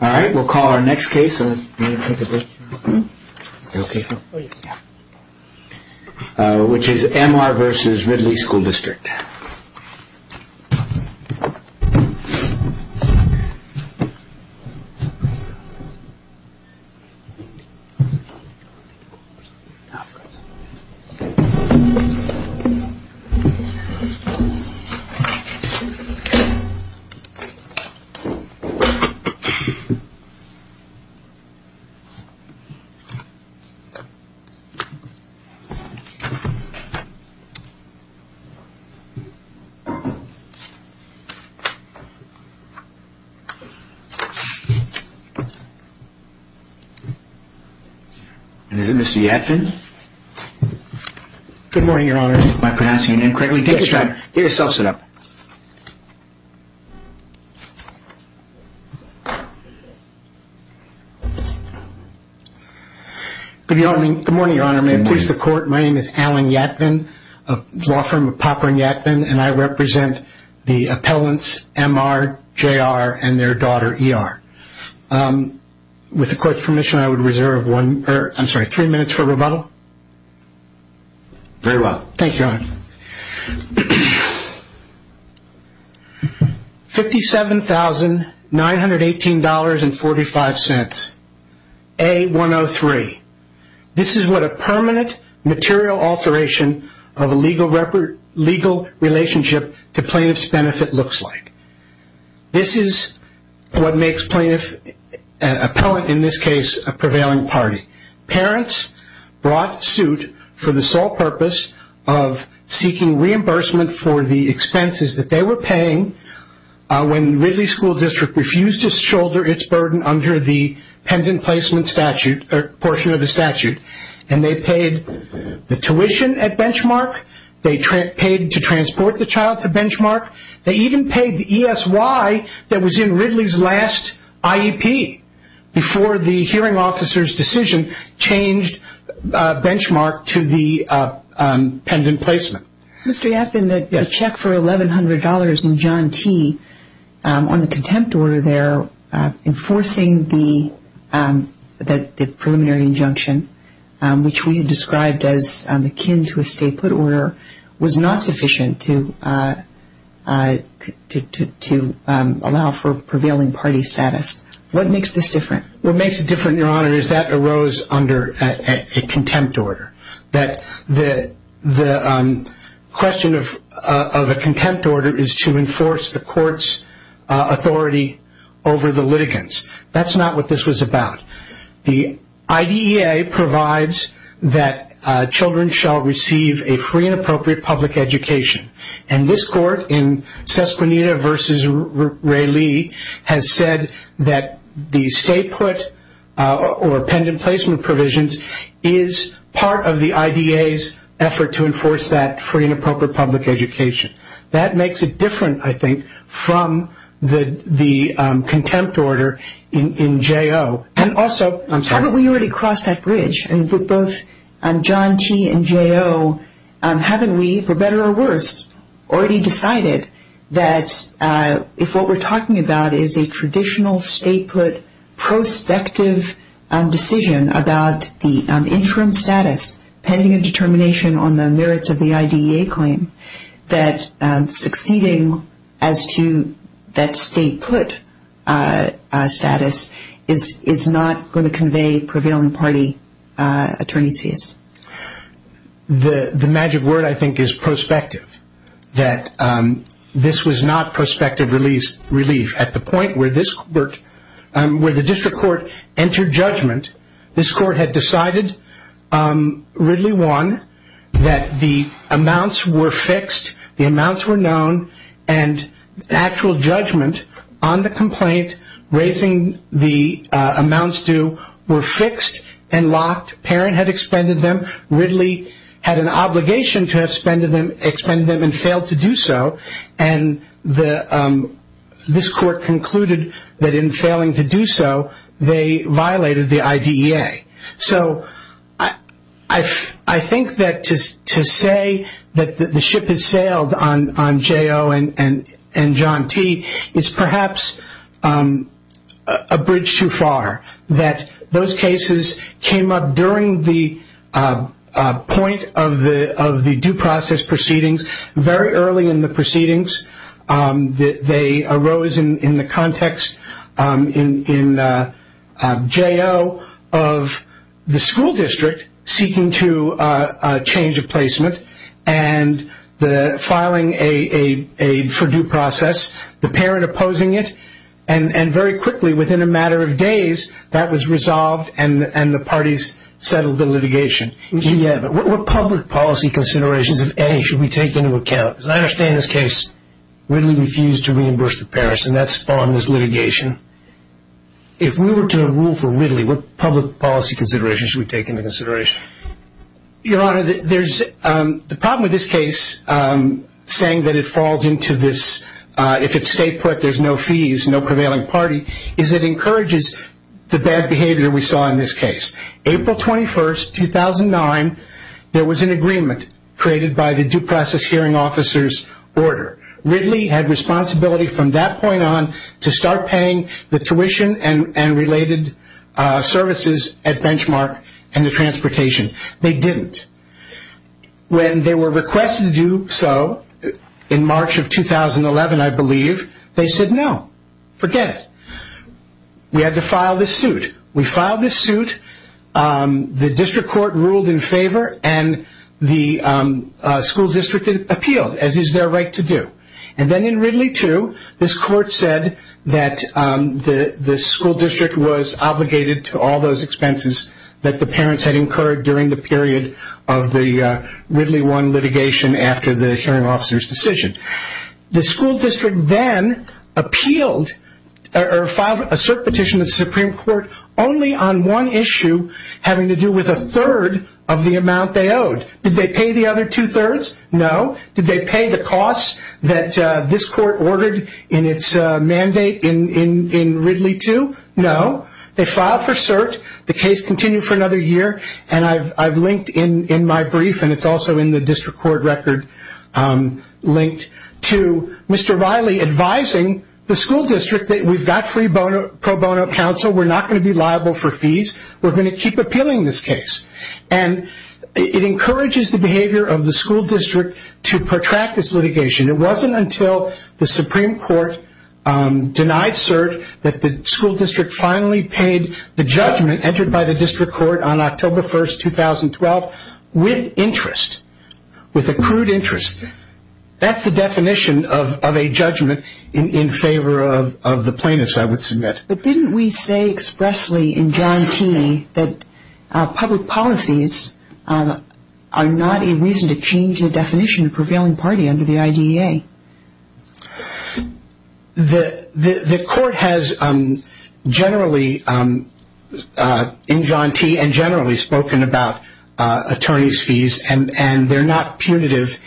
All right, we'll call our next case, which is M.R.etal.V.Ridley School District. And is it Mr. Yadfin? Good morning, your honor. Am I pronouncing your name correctly? Yes, sir. Get yourself set up. Good morning, your honor. May it please the court, my name is Alan Yadfin, a law firm of Popper and Yadfin, and I represent the appellants M.R., J.R., and their daughter, E.R. With the court's permission, I would reserve one, I'm sorry, three minutes for rebuttal. Very well. Thank you, your honor. $57,918.45, A-103. This is what a permanent material alteration of a legal relationship to plaintiff's benefit looks like. This is what makes a plaintiff, an appellant in this case, a prevailing party. Parents brought suit for the sole purpose of seeking reimbursement for the expenses that they were paying when Ridley School District refused to shoulder its burden under the pendant placement statute, or portion of the statute. And they paid the tuition at Benchmark, they paid to transport the child to Benchmark, they even paid the ESY that was in Ridley's last IEP before the hearing officer's decision changed Benchmark to the pendant placement. Mr. Yadfin, the check for $1,100 in John T., on the contempt order there, enforcing the preliminary injunction, which we described as akin to a statehood order, was not sufficient to allow for prevailing party status. What makes this different? What makes it different, your honor, is that arose under a contempt order. The question of a contempt order is to enforce the court's authority over the litigants. That's not what this was about. The IDEA provides that children shall receive a free and appropriate public education. And this court, in Sesquenita v. Ray Lee, has said that the statehood or pendant placement provisions is part of the IDEA's effort to enforce that free and appropriate public education. That makes it different, I think, from the contempt order in J.O. And also, I'm sorry. Haven't we already crossed that bridge with both John T. and J.O.? Haven't we, for better or worse, already decided that if what we're talking about is a traditional statehood prospective decision about the interim status, pending a determination on the merits of the IDEA claim, that succeeding as to that statehood status is not going to convey prevailing party attorney's fees? The magic word, I think, is prospective. This was not prospective relief at the point where the district court entered judgment. This court had decided, Ridley 1, that the amounts were fixed, the amounts were known, and actual judgment on the complaint, raising the amounts due, were fixed and locked. Parent had expended them. Ridley had an obligation to have expended them and failed to do so. And this court concluded that in failing to do so, they violated the IDEA. So I think that to say that the ship has sailed on J.O. and John T. is perhaps a bridge too far. That those cases came up during the point of the due process proceedings, very early in the proceedings, they arose in the context in J.O. of the school district seeking to change a placement and filing a for-due process, the parent opposing it, and very quickly within a matter of days, that was resolved and the parties settled the litigation. What public policy considerations of A should we take into account? As I understand this case, Ridley refused to reimburse the parents and that spawned this litigation. If we were to rule for Ridley, what public policy considerations should we take into consideration? Your Honor, the problem with this case, saying that it falls into this, if it's state put, there's no fees, no prevailing party, is it encourages the bad behavior we saw in this case. April 21st, 2009, there was an agreement created by the due process hearing officer's order. Ridley had responsibility from that point on to start paying the tuition and related services at Benchmark and the transportation. They didn't. When they were requested to do so in March of 2011, I believe, they said no, forget it. We had to file this suit. We filed this suit. The district court ruled in favor and the school district appealed as is their right to do. Then in Ridley 2, this court said that the school district was obligated to all those expenses that the parents had incurred during the period of the Ridley 1 litigation after the hearing officer's decision. The school district then appealed or filed a cert petition to the Supreme Court only on one issue having to do with a third of the amount they owed. Did they pay the other two-thirds? No. Did they pay the costs that this court ordered in its mandate in Ridley 2? No. They filed for cert. The case continued for another year and I've linked in my brief and it's also in the district court record linked to Mr. Riley advising the school district that we've got free pro bono counsel. We're not going to be liable for fees. We're going to keep appealing this case. It encourages the behavior of the school district to protract this litigation. It wasn't until the Supreme Court denied cert that the school district finally paid the judgment entered by the district court on October 1st, 2012 with interest, with accrued interest. That's the definition of a judgment in favor of the plaintiffs, I would submit. But didn't we say expressly in John Teeney that public policies are not a reason to change the definition of prevailing party under the IDEA? The court has generally in John T and generally spoken about attorney's fees and they're not punitive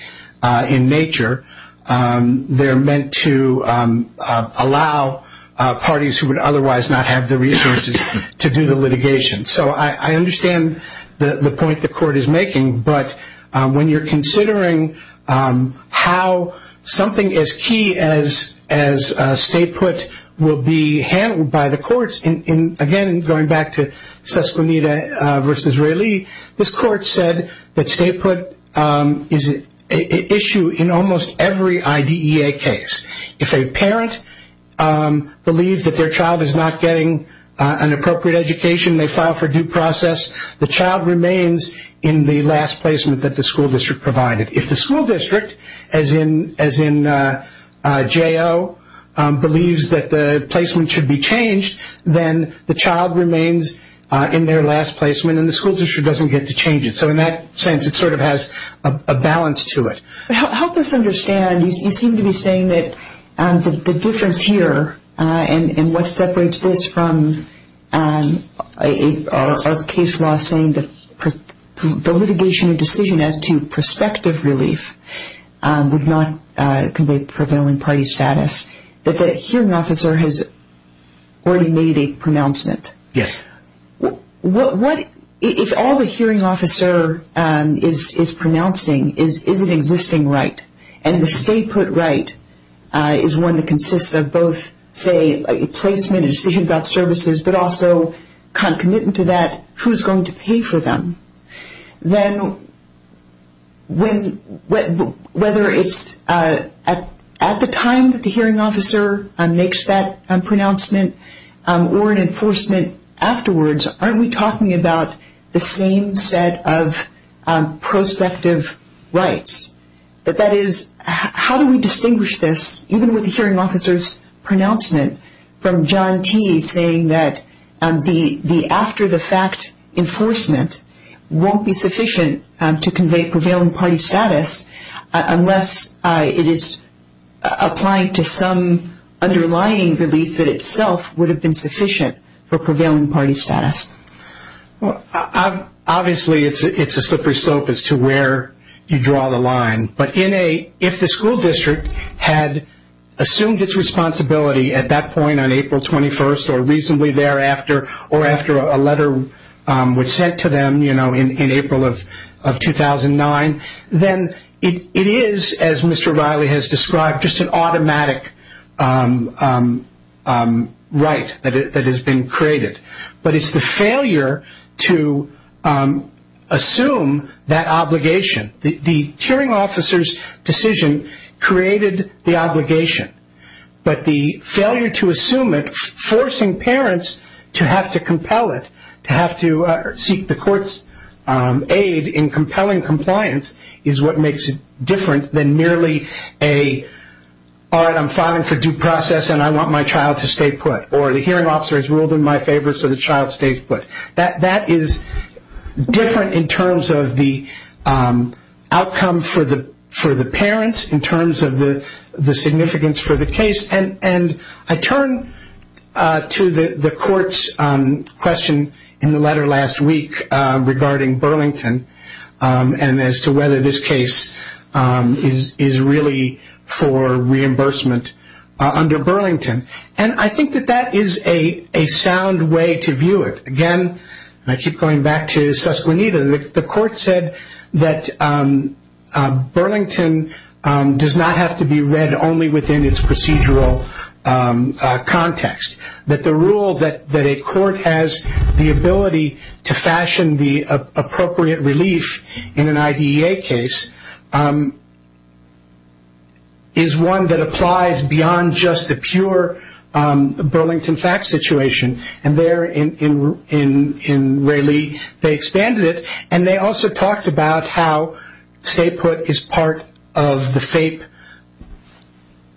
in nature. They're meant to allow parties who would otherwise not have the resources to do the litigation. So I understand the point the court is making, but when you're considering how something as key as state put will be handled by the courts, again going back to Sesquenita versus Riley, this court said that state put is an issue in almost every IDEA case. If a parent believes that their child is not getting an appropriate education, they file for due process, the child remains in the last placement that the school district provided. If the school district, as in J.O., believes that the placement should be changed, then the child remains in their last placement and the school district doesn't get to change it. So in that sense it sort of has a balance to it. Help us understand, you seem to be saying that the difference here and what separates this from a case law saying that the litigation decision as to prospective relief would not convey prevailing party status, that the hearing officer has already made a pronouncement. Yes. If all the hearing officer is pronouncing is an existing right and the state put right is one that consists of both placement and decision about services, but also concomitant to that, who is going to pay for them, then whether it's at the time that the hearing officer makes that pronouncement or in enforcement afterwards, aren't we talking about the same set of prospective rights? But that is, how do we distinguish this, even with the hearing officer's pronouncement, from John T. saying that the after-the-fact enforcement won't be sufficient to convey prevailing party status unless it is applying to some underlying relief that itself would have been sufficient for prevailing party status? Obviously, it's a slippery slope as to where you draw the line. But if the school district had assumed its responsibility at that point on April 21st or reasonably thereafter or after a letter was sent to them in April of 2009, then it is, as Mr. Riley has described, just an automatic right that has been created. But it's the failure to assume that obligation. The hearing officer's decision created the obligation. But the failure to assume it, forcing parents to have to compel it, to have to seek the court's aid in compelling compliance, is what makes it different than merely a, all right, I'm filing for due process and I want my child to stay put. Or the hearing officer has ruled in my favor so the child stays put. That is different in terms of the outcome for the parents, in terms of the significance for the case. And I turn to the court's question in the letter last week regarding Burlington and as to whether this case is really for reimbursement under Burlington. And I think that that is a sound way to view it. Again, and I keep going back to Susquenita, the court said that Burlington does not have to be read only within its procedural context. That the rule that a court has the ability to fashion the appropriate relief in an IDEA case is one that applies beyond just the pure Burlington fact situation. And there in Ray Lee, they expanded it. And they also talked about how stay put is part of the FAPE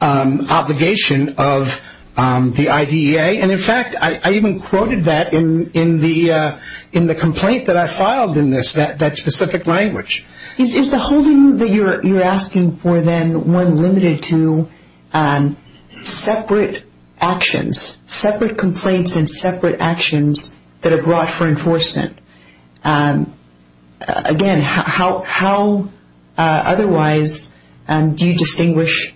obligation of the IDEA. And in fact, I even quoted that in the complaint that I filed in this, that specific language. Is the holding that you're asking for then one limited to separate actions, separate complaints and separate actions that are brought for enforcement? Again, how otherwise do you distinguish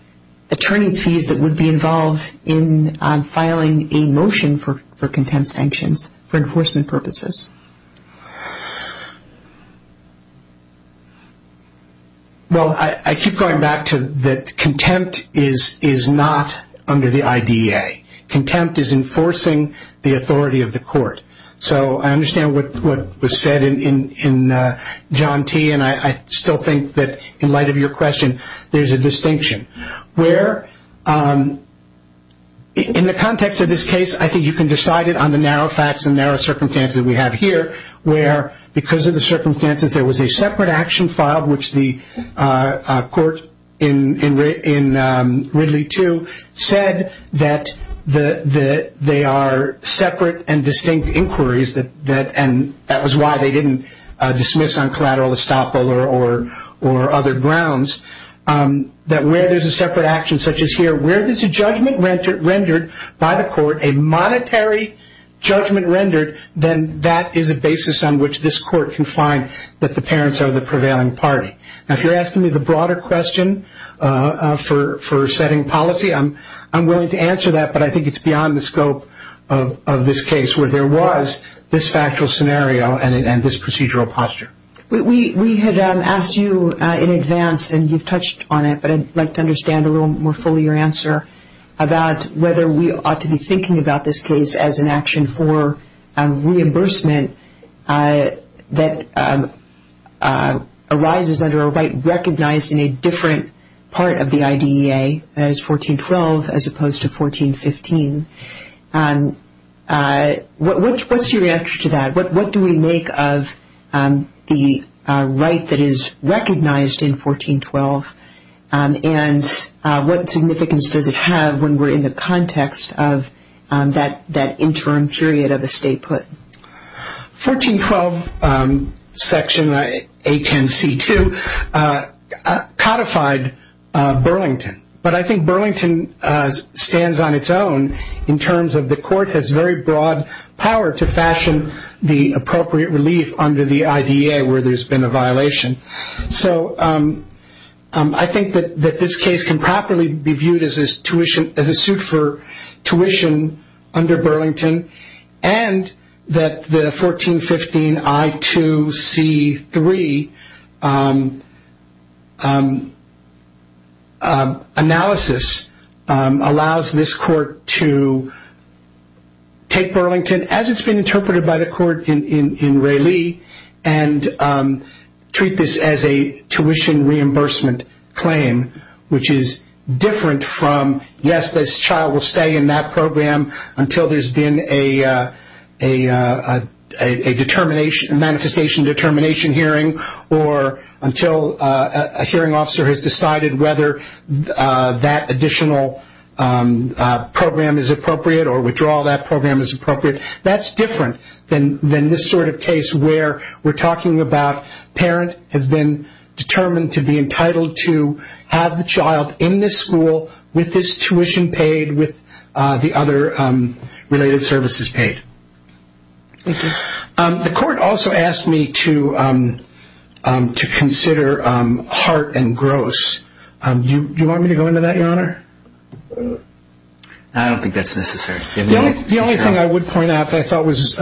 attorney's fees that would be involved in filing a motion for contempt sanctions for enforcement purposes? Well, I keep going back to that contempt is not under the IDEA. Contempt is enforcing the authority of the court. So I understand what was said in John T. And I still think that in light of your question, there's a distinction. Where in the context of this case, I think you can decide it on the narrow facts and narrow circumstances we have here. Where because of the circumstances, there was a separate action filed, which the court in Ridley too said that they are separate and distinct inquiries. And that was why they didn't dismiss on collateral estoppel or other grounds. That where there's a separate action such as here, where there's a judgment rendered by the court, a monetary judgment rendered, then that is a basis on which this court can find that the parents are the prevailing party. Now, if you're asking me the broader question for setting policy, I'm willing to answer that. But I think it's beyond the scope of this case where there was this factual scenario and this procedural posture. We had asked you in advance and you've touched on it. But I'd like to understand a little more fully your answer about whether we ought to be thinking about this case as an action for reimbursement that arises under a right recognized in a different part of the IDEA as 1412 as opposed to 1415. What's your answer to that? What do we make of the right that is recognized in 1412? And what significance does it have when we're in the context of that interim period of the statehood? 1412 section A10C2 codified Burlington. But I think Burlington stands on its own in terms of the court has very broad power to fashion the appropriate relief under the IDEA where there's been a violation. So I think that this case can properly be viewed as a suit for tuition under Burlington and that the 1415 I2C3 analysis allows this court to take Burlington as it's been interpreted by the court in Ray Lee and treat this as a tuition reimbursement claim which is different from yes, this child will stay in that program until there's been a manifestation determination hearing or until a hearing officer has decided whether that additional program is appropriate or withdraw that program is appropriate. That's different than this sort of case where we're talking about parent has been determined to be entitled to have the child in this school with this tuition paid with the other related services paid. The court also asked me to consider Hart and Gross. I don't think that's necessary. The only thing I would point out that I thought was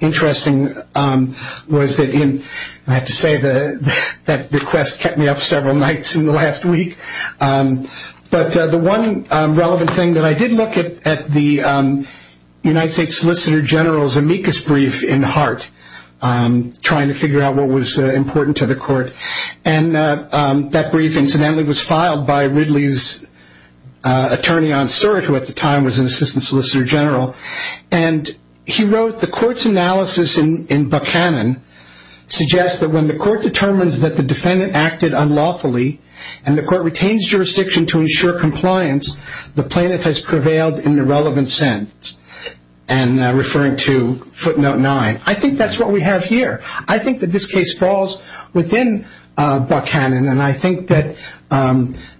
interesting was that in, I have to say, that request kept me up several nights in the last week. But the one relevant thing that I did look at the United States Solicitor General's amicus brief in Hart trying to figure out what was important to the court. That brief incidentally was filed by Ridley's attorney on cert who at the time was an assistant solicitor general. He wrote, the court's analysis in Buchanan suggests that when the court determines that the defendant acted unlawfully and the court retains jurisdiction to ensure compliance, the plaintiff has prevailed in the relevant sense. Referring to footnote nine. I think that's what we have here. I think that this case falls within Buchanan and I think that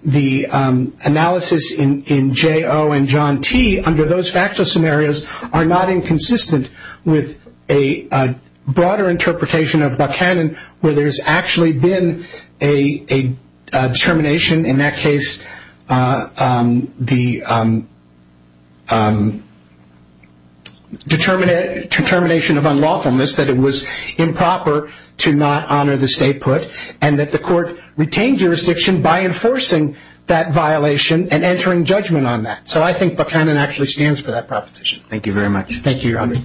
the analysis in J.O. and John T. under those factual scenarios are not inconsistent with a broader interpretation of Buchanan where there's actually been a determination, in that case the determination of unlawfulness that it was improper to not honor the statehood and that the court retained jurisdiction by enforcing that violation and entering judgment on that. So I think Buchanan actually stands for that proposition. Thank you very much. Thank you, your honor.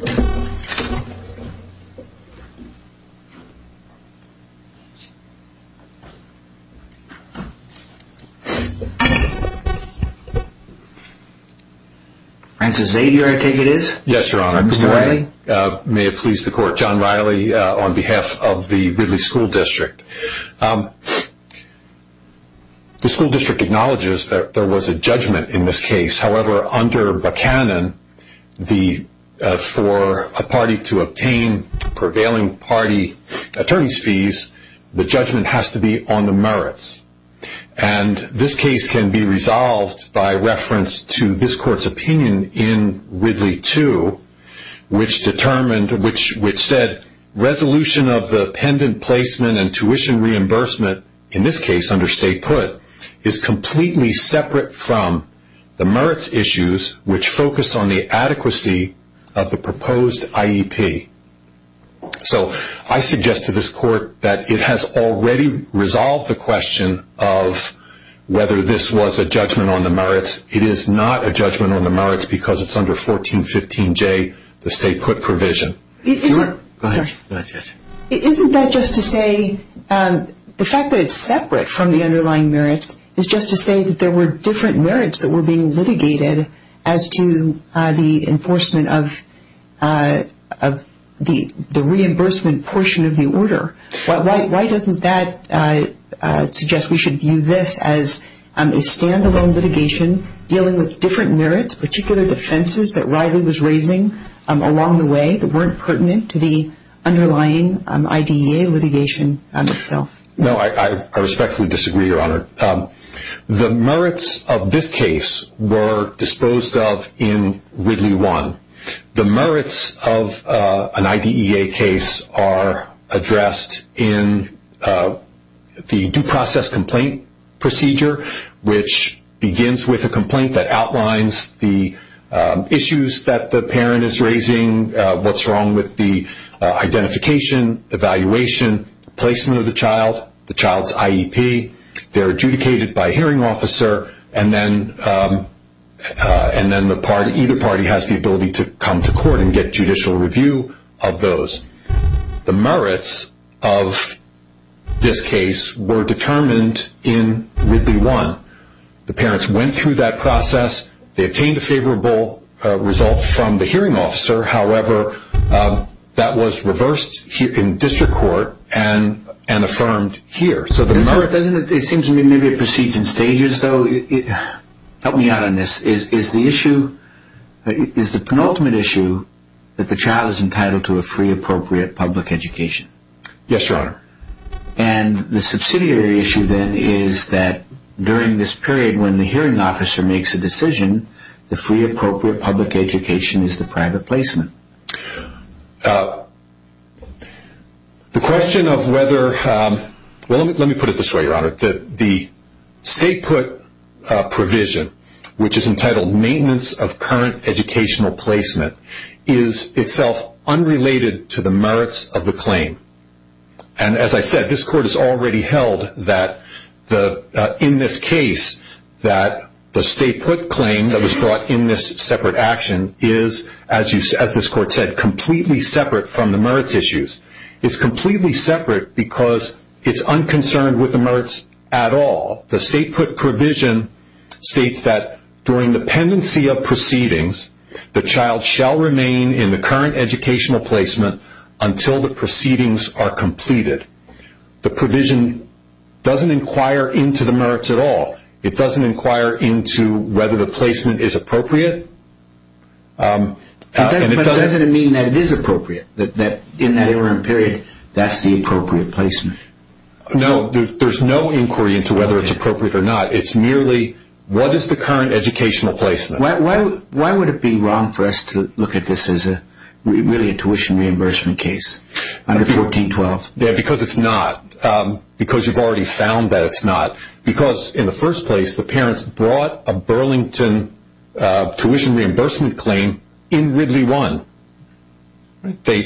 Francis Zadier, I take it is? Yes, your honor. Mr. Riley? May it please the court, John Riley on behalf of the Ridley School District. The school district acknowledges that there was a judgment in this case. However, under Buchanan, for a party to obtain prevailing party attorney's fees, the judgment has to be on the merits. And this case can be resolved by reference to this court's opinion in Ridley 2, which determined, which said resolution of the pendant placement and tuition reimbursement, in this case under state put, is completely separate from the merits issues which focus on the adequacy of the proposed IEP. So I suggest to this court that it has already resolved the question of whether this was a judgment on the merits. It is not a judgment on the merits because it is under 1415J, the state put provision. Go ahead. Isn't that just to say, the fact that it is separate from the underlying merits is just to say that there were different merits that were being litigated as to the enforcement of the reimbursement portion of the order. Why doesn't that suggest we should view this as a stand-alone litigation dealing with different merits, particular defenses that Riley was raising along the way that weren't pertinent to the underlying IDEA litigation itself? No, I respectfully disagree, your honor. The merits of this case were disposed of in Ridley 1. The merits of an IDEA case are addressed in the due process complaint procedure, which begins with a complaint that outlines the issues that the parent is raising, what's wrong with the identification, evaluation, placement of the child, the child's IEP. They're adjudicated by a hearing officer and then either party has the ability to come to court and get judicial review of those. The merits of this case were determined in Ridley 1. The parents went through that process, they obtained a favorable result from the hearing officer, however, that was reversed in district court and affirmed here. It seems to me maybe it proceeds in stages, though. Help me out on this. Is the issue, is the penultimate issue that the child is entitled to a free appropriate public education? Yes, your honor. And the subsidiary issue then is that during this period when the hearing officer makes a decision, the free appropriate public education is the private placement. The question of whether, well, let me put it this way, your honor. The state put provision, which is entitled maintenance of current educational placement, is itself unrelated to the merits of the claim. And as I said, this court has already held that in this case that the state put claim that was brought in this separate action is, as this court said, completely separate from the merits issues. It's completely separate because it's unconcerned with the merits at all. The state put provision states that during the pendency of proceedings, the child shall remain in the current educational placement until the proceedings are completed. The provision doesn't inquire into the merits at all. It doesn't inquire into whether the placement is appropriate. But doesn't it mean that it is appropriate? That in that interim period, that's the appropriate placement? No, there's no inquiry into whether it's appropriate or not. It's merely what is the current educational placement? Why would it be wrong for us to look at this as really a tuition reimbursement case under 1412? Because it's not. Because you've already found that it's not. Because in the first place, the parents brought a Burlington tuition reimbursement claim in Ridley 1. They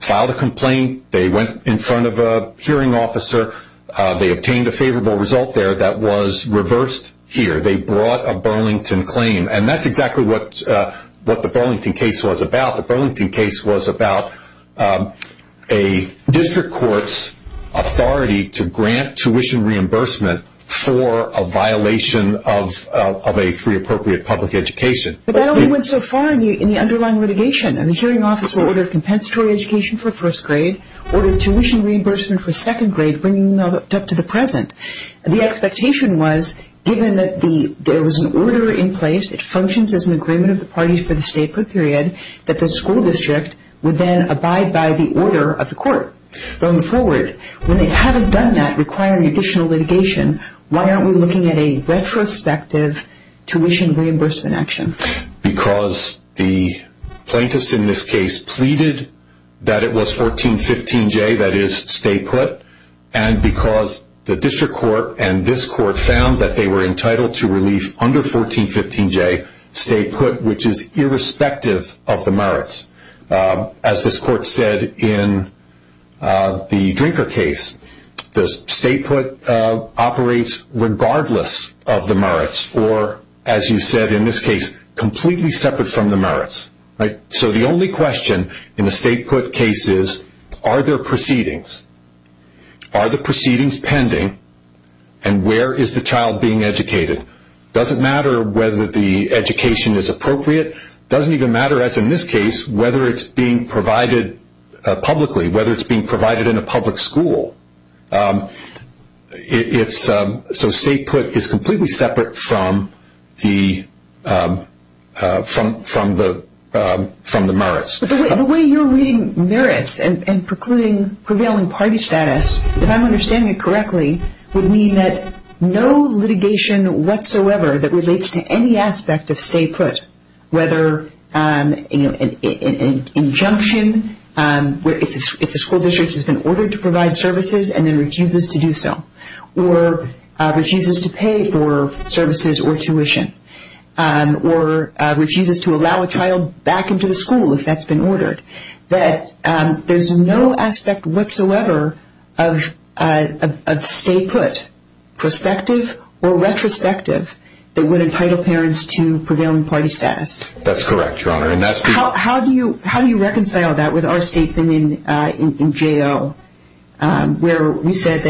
filed a complaint. They went in front of a hearing officer. They obtained a favorable result there that was reversed here. They brought a Burlington claim. And that's exactly what the Burlington case was about. The Burlington case was about a district court's authority to grant tuition reimbursement for a violation of a free appropriate public education. But that only went so far in the underlying litigation. And the hearing officer ordered compensatory education for first grade, ordered tuition reimbursement for second grade, bringing it up to the present. The expectation was, given that there was an order in place, it functions as an agreement of the parties for the stay put period, that the school district would then abide by the order of the court. Going forward, when they haven't done that requiring additional litigation, why aren't we looking at a retrospective tuition reimbursement action? Because the plaintiffs in this case pleaded that it was 1415J that is stay put. And because the district court and this court found that they were entitled to relief under 1415J stay put, which is irrespective of the merits. As this court said in the Drinker case, the stay put operates regardless of the merits. Or, as you said in this case, completely separate from the merits. So the only question in the stay put case is, are there proceedings? Are the proceedings pending? And where is the child being educated? It doesn't matter whether the education is appropriate. It doesn't even matter, as in this case, whether it's being provided publicly, whether it's being provided in a public school. So stay put is completely separate from the merits. But the way you're reading merits and prevailing party status, if I'm understanding it correctly, would mean that no litigation whatsoever that relates to any aspect of stay put, whether an injunction if the school district has been ordered to provide services and then refuses to do so, or refuses to pay for services or tuition, or refuses to allow a child back into the school if that's been ordered, that there's no aspect whatsoever of stay put, prospective or retrospective, that would entitle parents to prevailing party status. That's correct, Your Honor. How do you reconcile that with our statement in jail where we said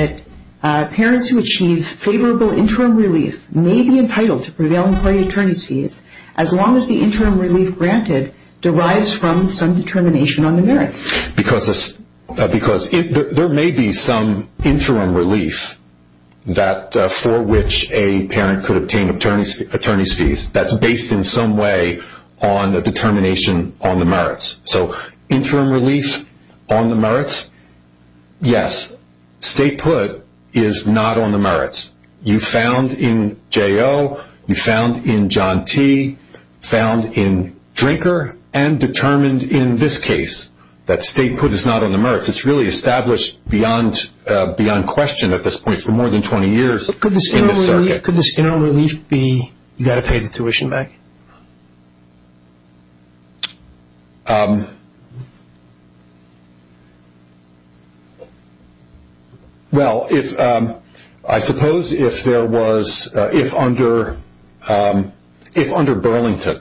that parents who achieve favorable interim relief may be entitled to prevailing party attorney's fees as long as the interim relief granted derives from some determination on the merits? Because there may be some interim relief for which a parent could obtain attorney's fees that's based in some way on a determination on the merits. So interim relief on the merits, yes. Stay put is not on the merits. You found in J.O., you found in John T., found in Drinker, and determined in this case that stay put is not on the merits. It's really established beyond question at this point for more than 20 years. Could this interim relief be you've got to pay the tuition back? Well, I suppose if there was, if under Burlington,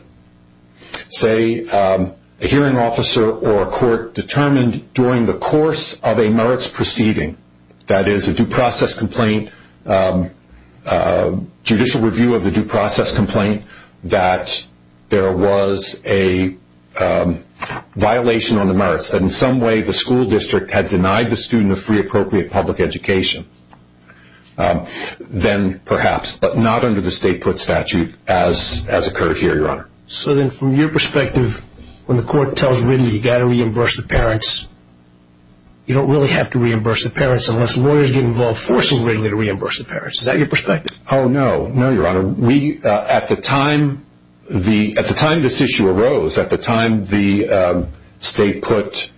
say a hearing officer or a court determined during the course of a merits proceeding, that is a due process complaint, judicial review of the due process complaint, that there was a violation on the merits and in some way the school district had denied the student a free appropriate public education, then perhaps, but not under the stay put statute as occurred here, Your Honor. So then from your perspective, when the court tells Ridley you've got to reimburse the parents, you don't really have to reimburse the parents unless lawyers get involved forcing Ridley to reimburse the parents. Is that your perspective? Oh, no. No, Your Honor. We, at the time, at the time this issue arose, at the time the stay put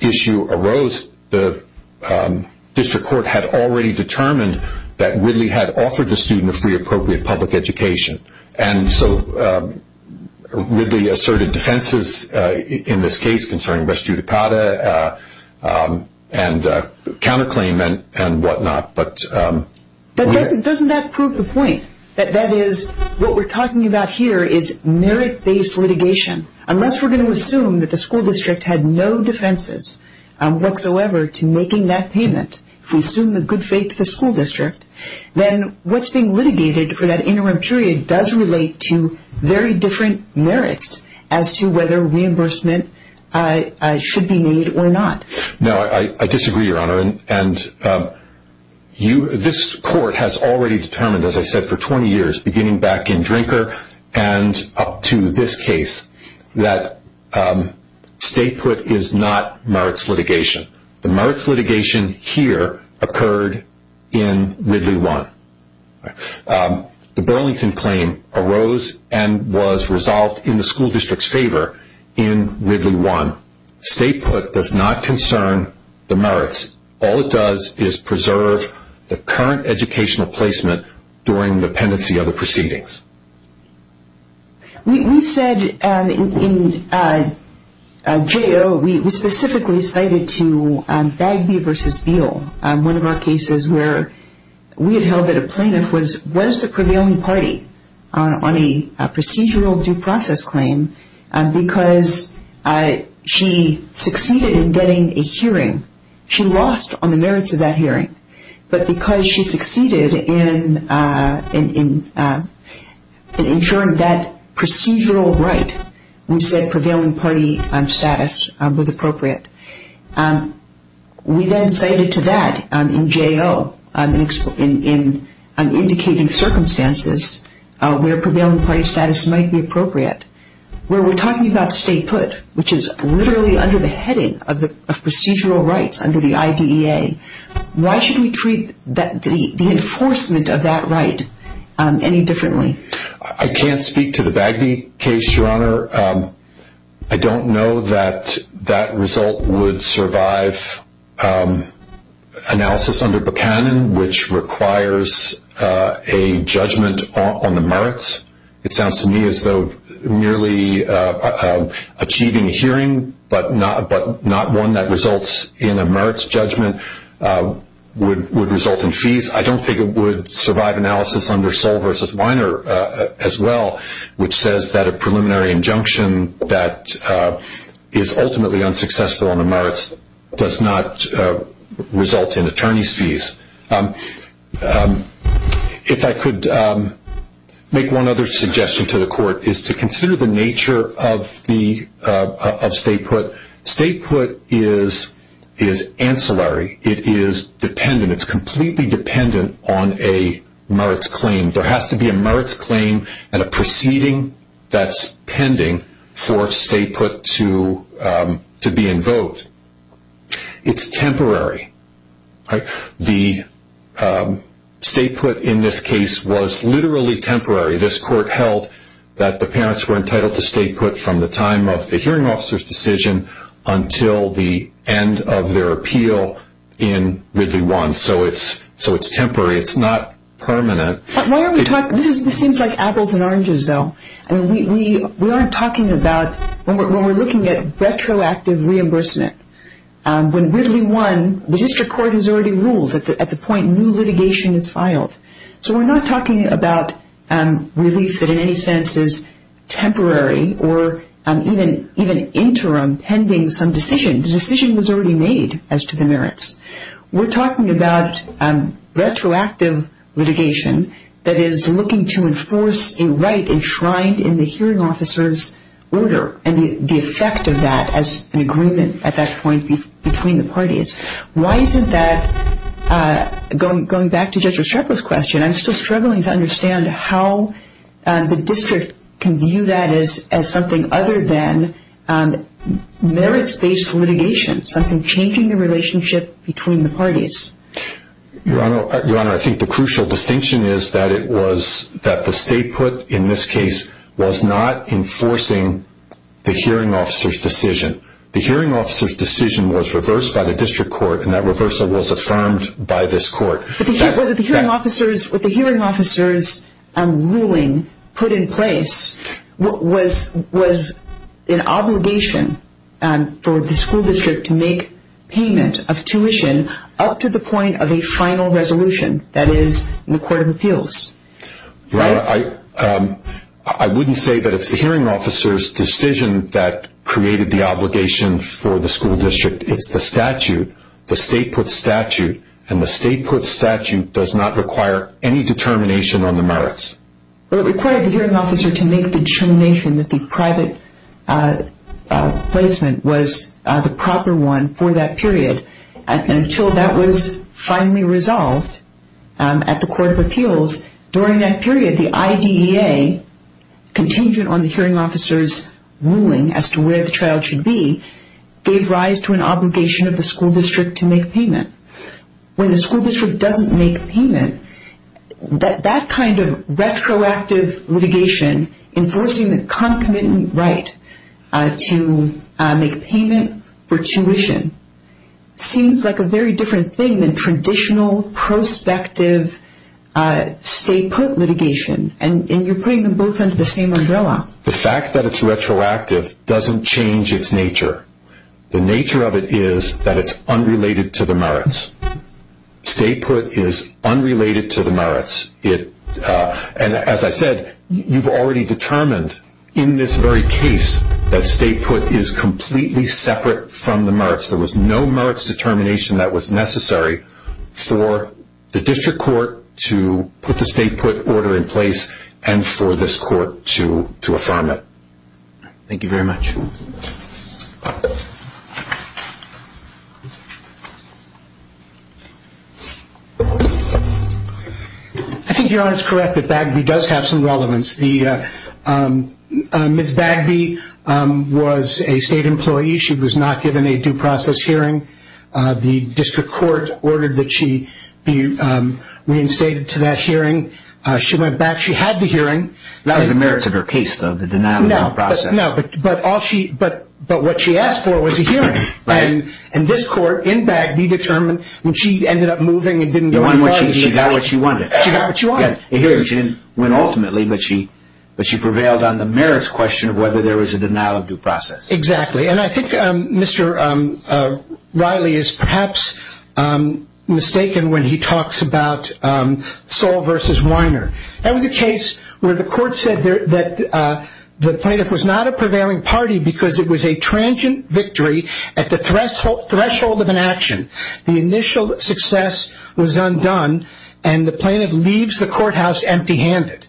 issue arose, the district court had already determined that Ridley had offered the student a free appropriate public education. And so Ridley asserted defenses in this case concerning rest judicata and counterclaim and whatnot. But doesn't that prove the point? That that is what we're talking about here is merit-based litigation. Unless we're going to assume that the school district had no defenses whatsoever to making that payment, if we assume the good faith of the school district, then what's being litigated for that interim period does relate to very different merits No, I disagree, Your Honor. And this court has already determined, as I said, for 20 years, beginning back in Drinker and up to this case, that stay put is not merits litigation. The merits litigation here occurred in Ridley 1. The Burlington claim arose and was resolved in the school district's favor in Ridley 1. Stay put does not concern the merits. All it does is preserve the current educational placement during the pendency of the proceedings. We said in J.O., we specifically cited to Bagby v. Beal, one of our cases where we had held that a plaintiff was the prevailing party on a procedural due process claim because she succeeded in getting a hearing. She lost on the merits of that hearing, but because she succeeded in ensuring that procedural right, we said prevailing party status was appropriate. We then cited to that in J.O. in indicating circumstances where prevailing party status might be appropriate, where we're talking about stay put, which is literally under the heading of procedural rights under the IDEA. Why should we treat the enforcement of that right any differently? I can't speak to the Bagby case, Your Honor. I don't know that that result would survive analysis under Buchanan, which requires a judgment on the merits. It sounds to me as though merely achieving a hearing, but not one that results in a merits judgment, would result in fees. I don't think it would survive analysis under Soll v. Weiner as well, which says that a preliminary injunction does not result in attorney's fees. If I could make one other suggestion to the court, is to consider the nature of stay put. Stay put is ancillary. It is dependent. It's completely dependent on a merits claim. There has to be a merits claim and a proceeding that's pending for stay put to be invoked. It's temporary. The stay put in this case was literally temporary. This court held that the parents were entitled to stay put from the time of the hearing officer's decision until the end of their appeal in Ridley 1. So it's temporary. It's not permanent. This seems like apples and oranges, though. We aren't talking about... When we're looking at retroactive reimbursement, when Ridley 1, the district court has already ruled at the point new litigation is filed. So we're not talking about relief that in any sense is temporary or even interim, pending some decision. The decision was already made as to the merits. We're talking about retroactive litigation that is looking to enforce a right enshrined in the hearing officer's order and the effect of that as an agreement at that point between the parties. Why isn't that... Going back to Judge Restrepo's question, I'm still struggling to understand how the district can view that as something other than merits-based litigation, something changing the relationship between the parties. Your Honor, I think the crucial distinction is that the stay put in this case was not enforcing the hearing officer's decision. The hearing officer's decision was reversed by the district court and that reversal was affirmed by this court. But the hearing officer's ruling put in place was an obligation for the school district to make payment of tuition up to the point of a final resolution, that is, in the Court of Appeals. Your Honor, I wouldn't say that it's the hearing officer's decision that created the obligation for the school district. It's the statute, the stay put statute, and the stay put statute does not require any determination on the merits. It required the hearing officer to make the determination that the private placement was the proper one for that period. Until that was finally resolved at the Court of Appeals, during that period, the IDEA, contingent on the hearing officer's ruling, as to where the child should be, gave rise to an obligation of the school district to make payment. When the school district doesn't make payment, that kind of retroactive litigation, enforcing the concomitant right to make payment for tuition, seems like a very different thing than traditional prospective stay put litigation. And you're putting them both under the same umbrella. The fact that it's retroactive doesn't change its nature. The nature of it is that it's unrelated to the merits. Stay put is unrelated to the merits. And as I said, you've already determined in this very case that stay put is completely separate from the merits. There was no merits determination that was necessary for the district court to put the stay put order in place and for this court to affirm it. Thank you very much. I think Your Honor is correct that Bagby does have some relevance. Ms. Bagby was a state employee. She was not given a due process hearing. The district court ordered that she be reinstated to that hearing. She went back. She had the hearing. That was the merits of her case, though, the denial of due process. No, but what she asked for was a hearing. And this court, in Bagby, determined when she ended up moving and didn't do what she wanted. She got what she wanted. She got what she wanted. She didn't win ultimately, but she prevailed on the merits question of whether there was a denial of due process. Exactly. And I think Mr. Riley is perhaps mistaken when he talks about Soll v. Weiner. That was a case where the court said that the plaintiff was not a prevailing party because it was a transient victory at the threshold of an action. The initial success was undone and the plaintiff leaves the courthouse empty-handed.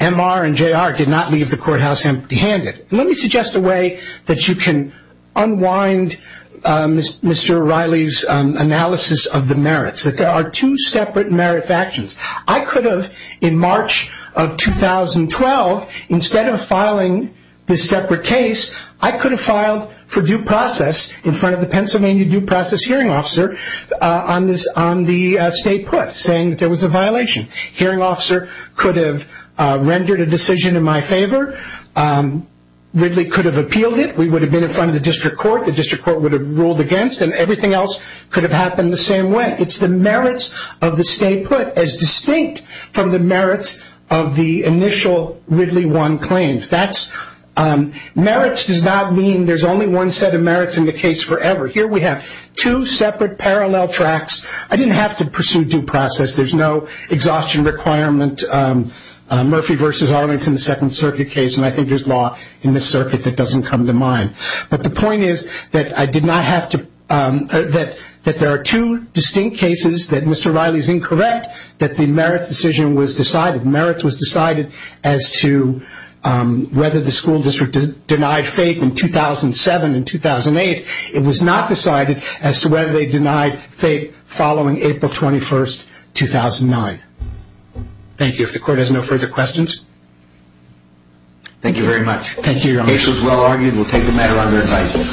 M.R. and J.R. did not leave the courthouse empty-handed. Let me suggest a way that you can unwind Mr. Riley's analysis of the merits, that there are two separate merits actions. I could have, in March of 2012, instead of filing this separate case, I could have filed for due process in front of the Pennsylvania due process hearing officer on the state put, saying that there was a violation. Hearing officer could have rendered a decision in my favor. Ridley could have appealed it. We would have been in front of the district court. The district court would have ruled against it. Everything else could have happened the same way. It's the merits of the state put as distinct from the merits of the initial Ridley 1 claims. Merits does not mean there's only one set of merits in the case forever. Here we have two separate parallel tracks. I didn't have to pursue due process. There's no exhaustion requirement. Murphy v. Arlington, the Second Circuit case, and I think there's law in this circuit that doesn't come to mind. But the point is that I did not have to... In any cases that Mr. Riley's incorrect, that the merits decision was decided. Merits was decided as to whether the school district denied FAPE in 2007 and 2008. It was not decided as to whether they denied FAPE following April 21st, 2009. Thank you. If the court has no further questions... Thank you very much. Thank you, Your Honor. The case was well argued. We'll take the matter under advice.